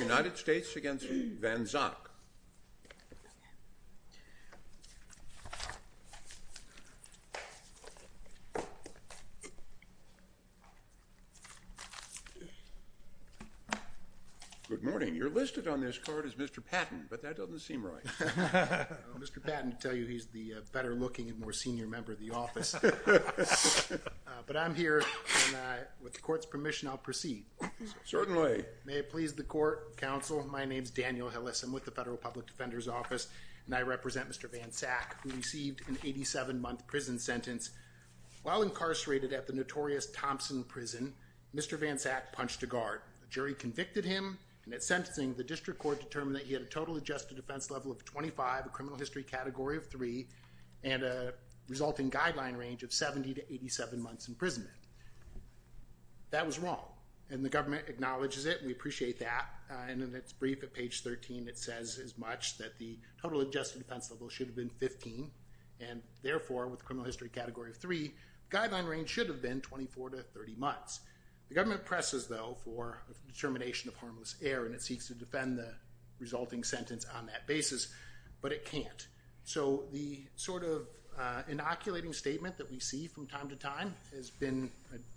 United States v. Van Sach Good morning. You're listed on this card as Mr. Patton, but that doesn't seem right. I'm Mr. Patton to tell you he's the better looking and more senior member of the office. But I'm here and with the court's permission I'll proceed. Certainly. Go ahead. May it please the court, counsel. My name's Daniel Hillis. I'm with the Federal Public Defender's Office and I represent Mr. Van Sach who received an 87-month prison sentence. While incarcerated at the notorious Thompson Prison, Mr. Van Sach punched a guard. The jury convicted him and at sentencing the district court determined that he had a total adjusted defense level of 25, a criminal history category of 3, and a resulting guideline range of 70 to 87 months imprisonment. That was wrong and the government acknowledges it and we appreciate that and in its brief at page 13 it says as much that the total adjusted defense level should have been 15 and therefore with criminal history category of 3, guideline range should have been 24 to 30 months. The government presses though for determination of harmless error and it seeks to defend the resulting sentence on that basis, but it can't. So the sort of inoculating statement that we see from time to time has been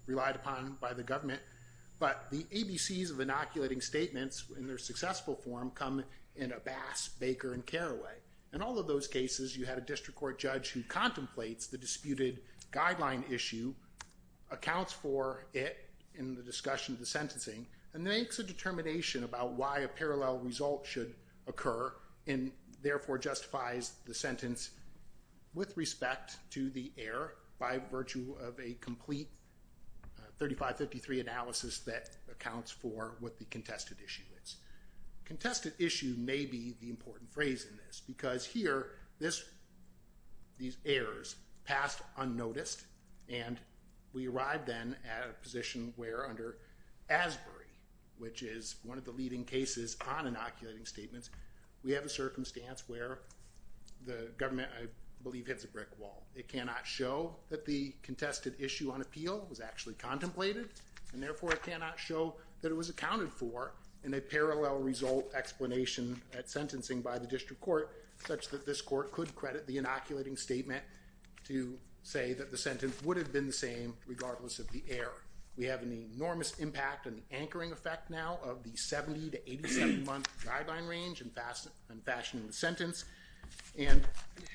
relied upon by the government, but the ABCs of inoculating statements in their successful form come in a Bass, Baker, and Carraway. In all of those cases you had a district court judge who contemplates the disputed guideline issue, accounts for it in the discussion of the sentencing, and makes a determination about why a parallel result should occur and therefore justifies the sentence with respect to the error by virtue of a complete 3553 analysis that accounts for what the contested issue is. Contested issue may be the important phrase in this because here these errors passed unnoticed and we arrived then at a position where under Asbury, which is one of the leading cases on inoculating statements, we have a circumstance where the government I believe hits a brick wall. It cannot show that the contested issue on appeal was actually contemplated and therefore it cannot show that it was accounted for in a parallel result explanation at sentencing by the district court such that this court could credit the inoculating statement to say that the sentence would have been the same regardless of the error. We have an enormous impact on the anchoring effect now of the 70 to 87 month guideline range and fashioning the sentence and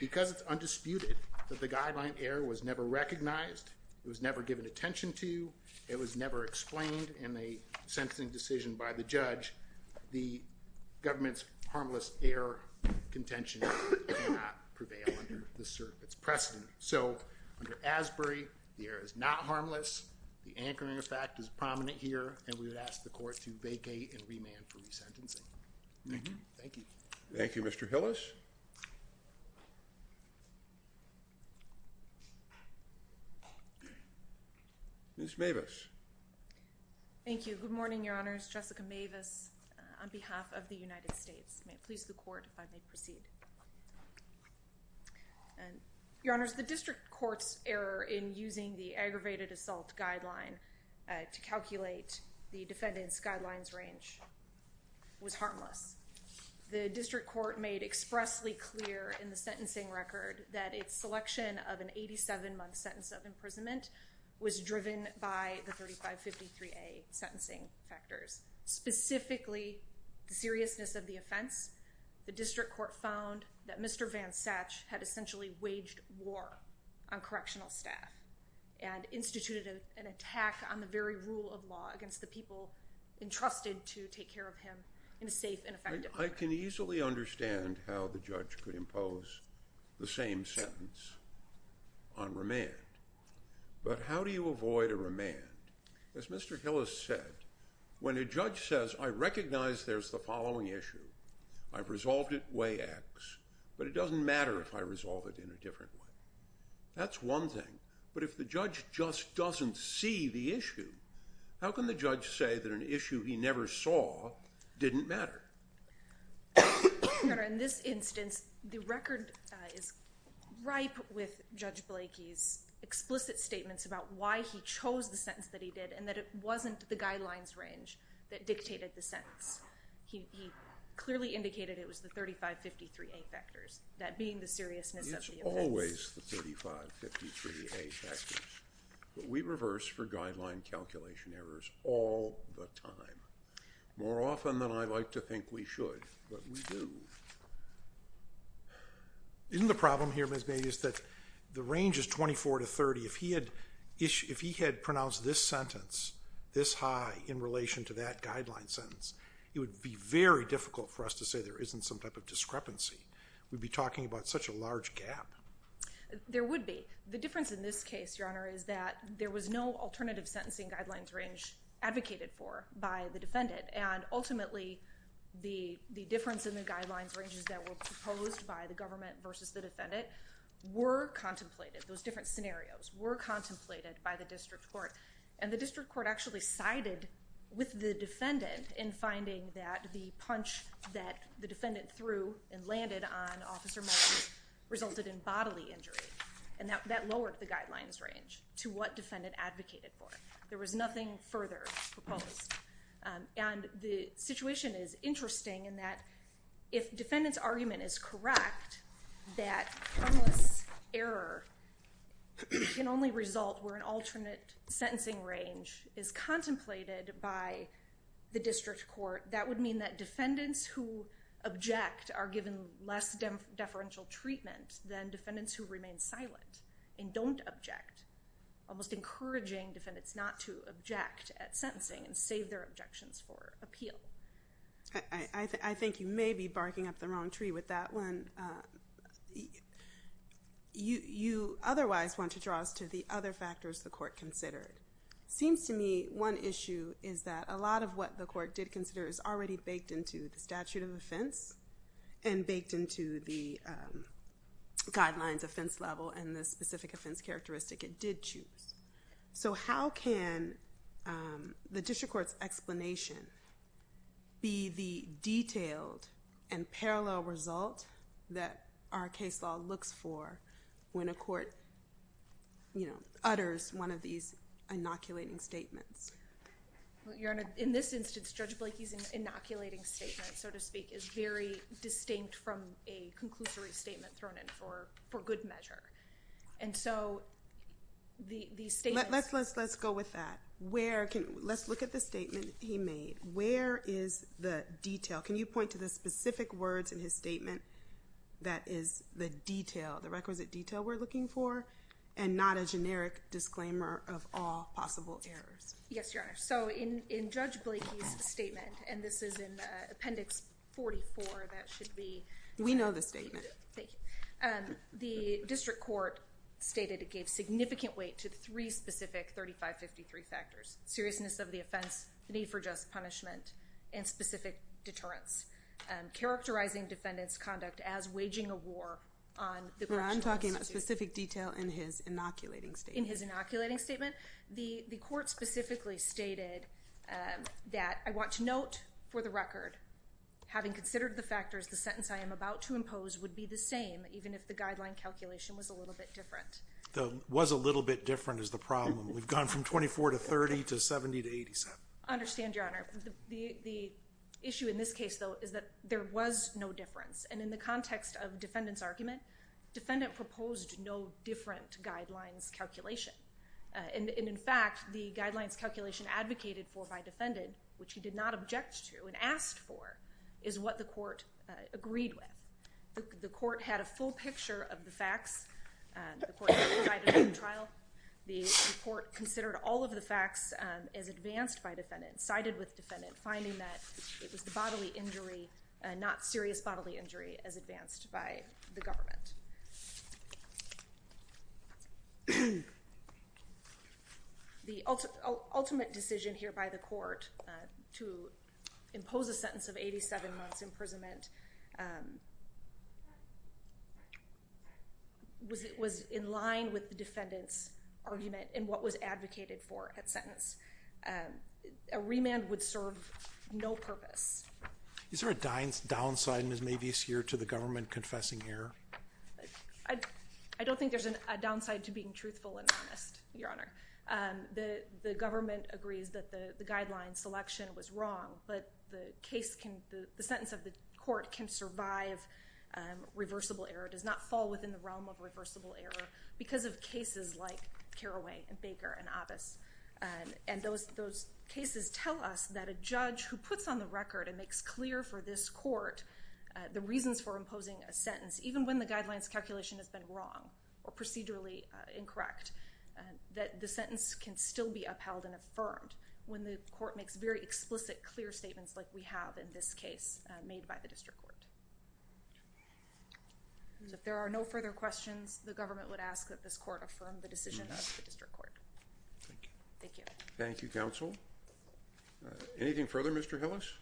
because it's undisputed that the guideline error was never recognized, it was never given attention to, it was never explained in a sentencing decision by the judge, the government's harmless error contention did not prevail under this rule. Under Asbury, the error is not harmless. The anchoring effect is prominent here and we would ask the court to vacate and remand for resentencing. Thank you. Thank you. Thank you Mr. Hillis. Ms. Mavis. Thank you. Good morning, Your Honors. Jessica Mavis on behalf of the United States. May it please the court if I may proceed. Your Honors, the district court's error in using the aggravated assault guideline to calculate the defendant's guidelines range was harmless. The district court made expressly clear in the sentencing record that its selection of an 87 month sentence of imprisonment was driven by the 3553A sentencing factors. Specifically, the seriousness of the offense, the district court found that Mr. Van Satch had essentially waged war on correctional staff and instituted an attack on the very rule of law against the people entrusted to take care of him in a safe and effective manner. I can easily understand how the judge could impose the same sentence on remand. But how do you avoid a remand? As Mr. Hillis said, when a judge says, I recognize there's the following issue, I've resolved it way X, but it doesn't matter if I resolve it in a different way. That's one thing. But if the judge just doesn't see the issue, how can the judge say that an issue he never saw didn't matter? Your Honor, in this instance, the record is ripe with Judge Blakey's explicit statements about why he chose the sentence that he did and that it wasn't the guidelines range that dictated the sentence. He clearly indicated it was the 3553A factors. That being the seriousness of the offense. It's always the 3553A factors, but we reverse for guideline calculation errors all the time. More often than I'd like to think we should, but we do. Isn't the problem here, Ms. Mavis, that the range is 24 to 30? If he had pronounced this sentence this high in relation to that guideline sentence, it would be very difficult for us to say there isn't some type of discrepancy. We'd be talking about such a large gap. There would be. The difference in this case, Your Honor, is that there was no alternative sentencing guidelines range advocated for by the defendant. And ultimately, the difference in the guidelines ranges that were proposed by the government versus the defendant were contemplated. Those different scenarios were contemplated by the district court. And the district court actually sided with the defendant in finding that the punch that the defendant threw and landed on Officer Martin resulted in bodily injury. And that lowered the guidelines range to what defendant advocated for. There was nothing further proposed. And the situation is interesting in that if defendant's argument is correct, that harmless error can only result where an alternate sentencing range is contemplated by the district court. That would mean that defendants who object are given less deferential treatment than defendants who remain silent and don't object, almost encouraging defendants not to object at sentencing and save their objections for appeal. I think you may be barking up the wrong tree with that one. You otherwise want to draw us to the other factors the court considered. It seems to me one issue is that a lot of what the court did consider is already baked into the statute of offense and baked into the guidelines offense level and the specific offense characteristic it did choose. So how can the district court's explanation be the detailed and parallel result that our case law looks for when a court, you know, utters one of these inoculating statements? In this instance, Judge Blakey's inoculating statement, so to speak, is very distinct from a conclusory statement thrown in for good measure. And so, the statement... Let's go with that. Let's look at the statement he made. Where is the detail? Can you point to the specific words in his statement that is the detail, the requisite detail we're looking for, and not a generic disclaimer of all possible errors? Yes, Your Honor. So in Judge Blakey's statement, and this is in Appendix 44, that should be... We know the statement. Thank you. The district court stated it gave significant weight to three specific 3553 factors. Seriousness of the offense, the need for just punishment, and specific deterrence. Characterizing defendant's conduct as waging a war on the... No, I'm talking about specific detail in his inoculating statement. In his inoculating statement? The court specifically stated that, I want to note for the record, having considered the factors, the sentence I am about to impose would be the same, even if the guideline calculation was a little bit different. Was a little bit different is the problem. We've gone from 24 to 30 to 70 to 87. Understand, Your Honor. The issue in this case, though, is that there was no difference. And in the context of defendant's argument, defendant proposed no different guidelines calculation. And in fact, the guidelines calculation advocated for by defendant, which he did not object to and asked for, is what the court agreed with. The court had a full picture of the facts. The court provided in the trial. The court considered all of the facts as advanced by defendant, sided with defendant, finding that it was the bodily injury, not serious bodily injury, as advanced by the government. The ultimate decision here by the court to impose a sentence of 87 months imprisonment was in line with the defendant's argument and what was advocated for at sentence. A remand would serve no purpose. Is there a downside, Ms. Mavis, here to the government confessing error? I don't think there's a downside to being truthful and honest, Your Honor. The government agrees that the guideline selection was wrong, but the sentence of the court can survive reversible error, does not fall within the realm of reversible error because of cases like Carraway and Baker and Abbas. And those cases tell us that a judge who puts on the record and makes clear for this court the reasons for imposing a sentence, even when the guidelines calculation has been wrong or procedurally incorrect, that the sentence can still be upheld and affirmed when the court makes very explicit, clear statements like we have in this case made by the district court. If there are no further questions, the government would ask that this court affirm the decision of the district court. Thank you. Thank you. Thank you, counsel. Anything further, Mr. Hillis?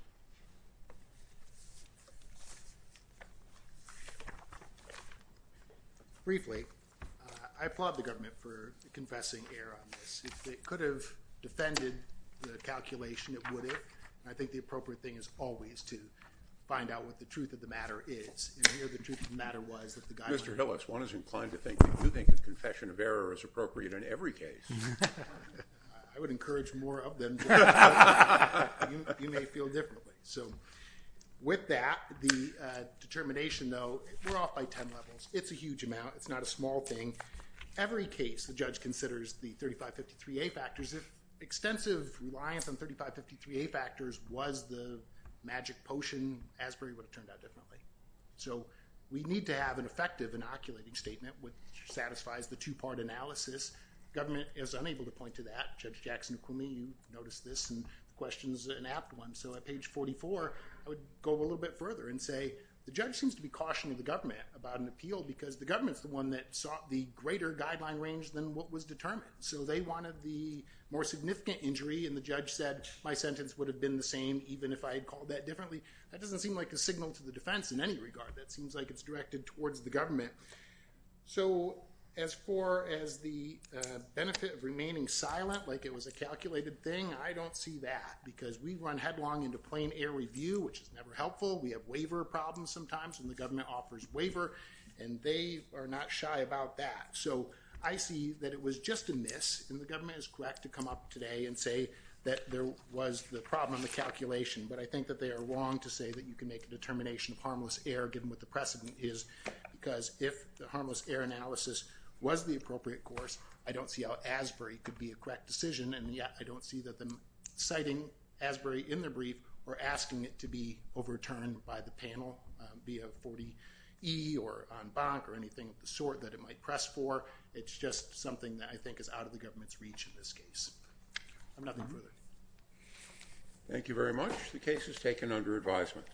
Briefly, I applaud the government for confessing error on this. It could have defended the calculation. It would have. And I think the appropriate thing is always to find out what the truth of the matter is. And here the truth of the matter was that the guideline... Mr. Hillis, one is inclined to think that you think the confession of error is appropriate in every case. I would encourage more of them. You may feel differently. So, with that, the determination, though, we're off by 10 levels. It's a huge amount. It's not a small thing. Every case the judge considers the 3553A factors. If extensive reliance on 3553A factors was the magic potion, Asbury would have turned out differently. So, we need to have an effective inoculating statement which satisfies the two-part analysis. Government is unable to point to that. Judge Jackson, you noticed this and the question is an apt one. So, at page 44, I would go a little bit further and say the judge seems to be cautioning the government about an appeal because the government is the one that sought the greater guideline range than what was determined. So, they wanted the more significant injury and the judge said my sentence would have been the same even if I had called that differently. That doesn't seem like a signal to the defense in any regard. That seems like it's directed towards the government. So, as far as the benefit of remaining silent like it was a calculated thing, I don't see that because we run headlong into plain air review which is never helpful. We have waiver problems sometimes and the government offers waiver and they are not shy about that. So, I see that it was just a miss and the government is correct to come up today and say that there was the problem in the calculation. But I think that they are wrong to say that you can make a determination of harmless error given what the precedent is because if the harmless error analysis was the appropriate course, I don't see how Asbury could be a correct decision and yet I don't see that them citing Asbury in their brief or asking it to be overturned by the panel via 40E or on bonk or anything of the sort that it might press for. It's just something that I think is out of the government's reach in this case. I have nothing further. Thank you very much. The case is taken under advisement.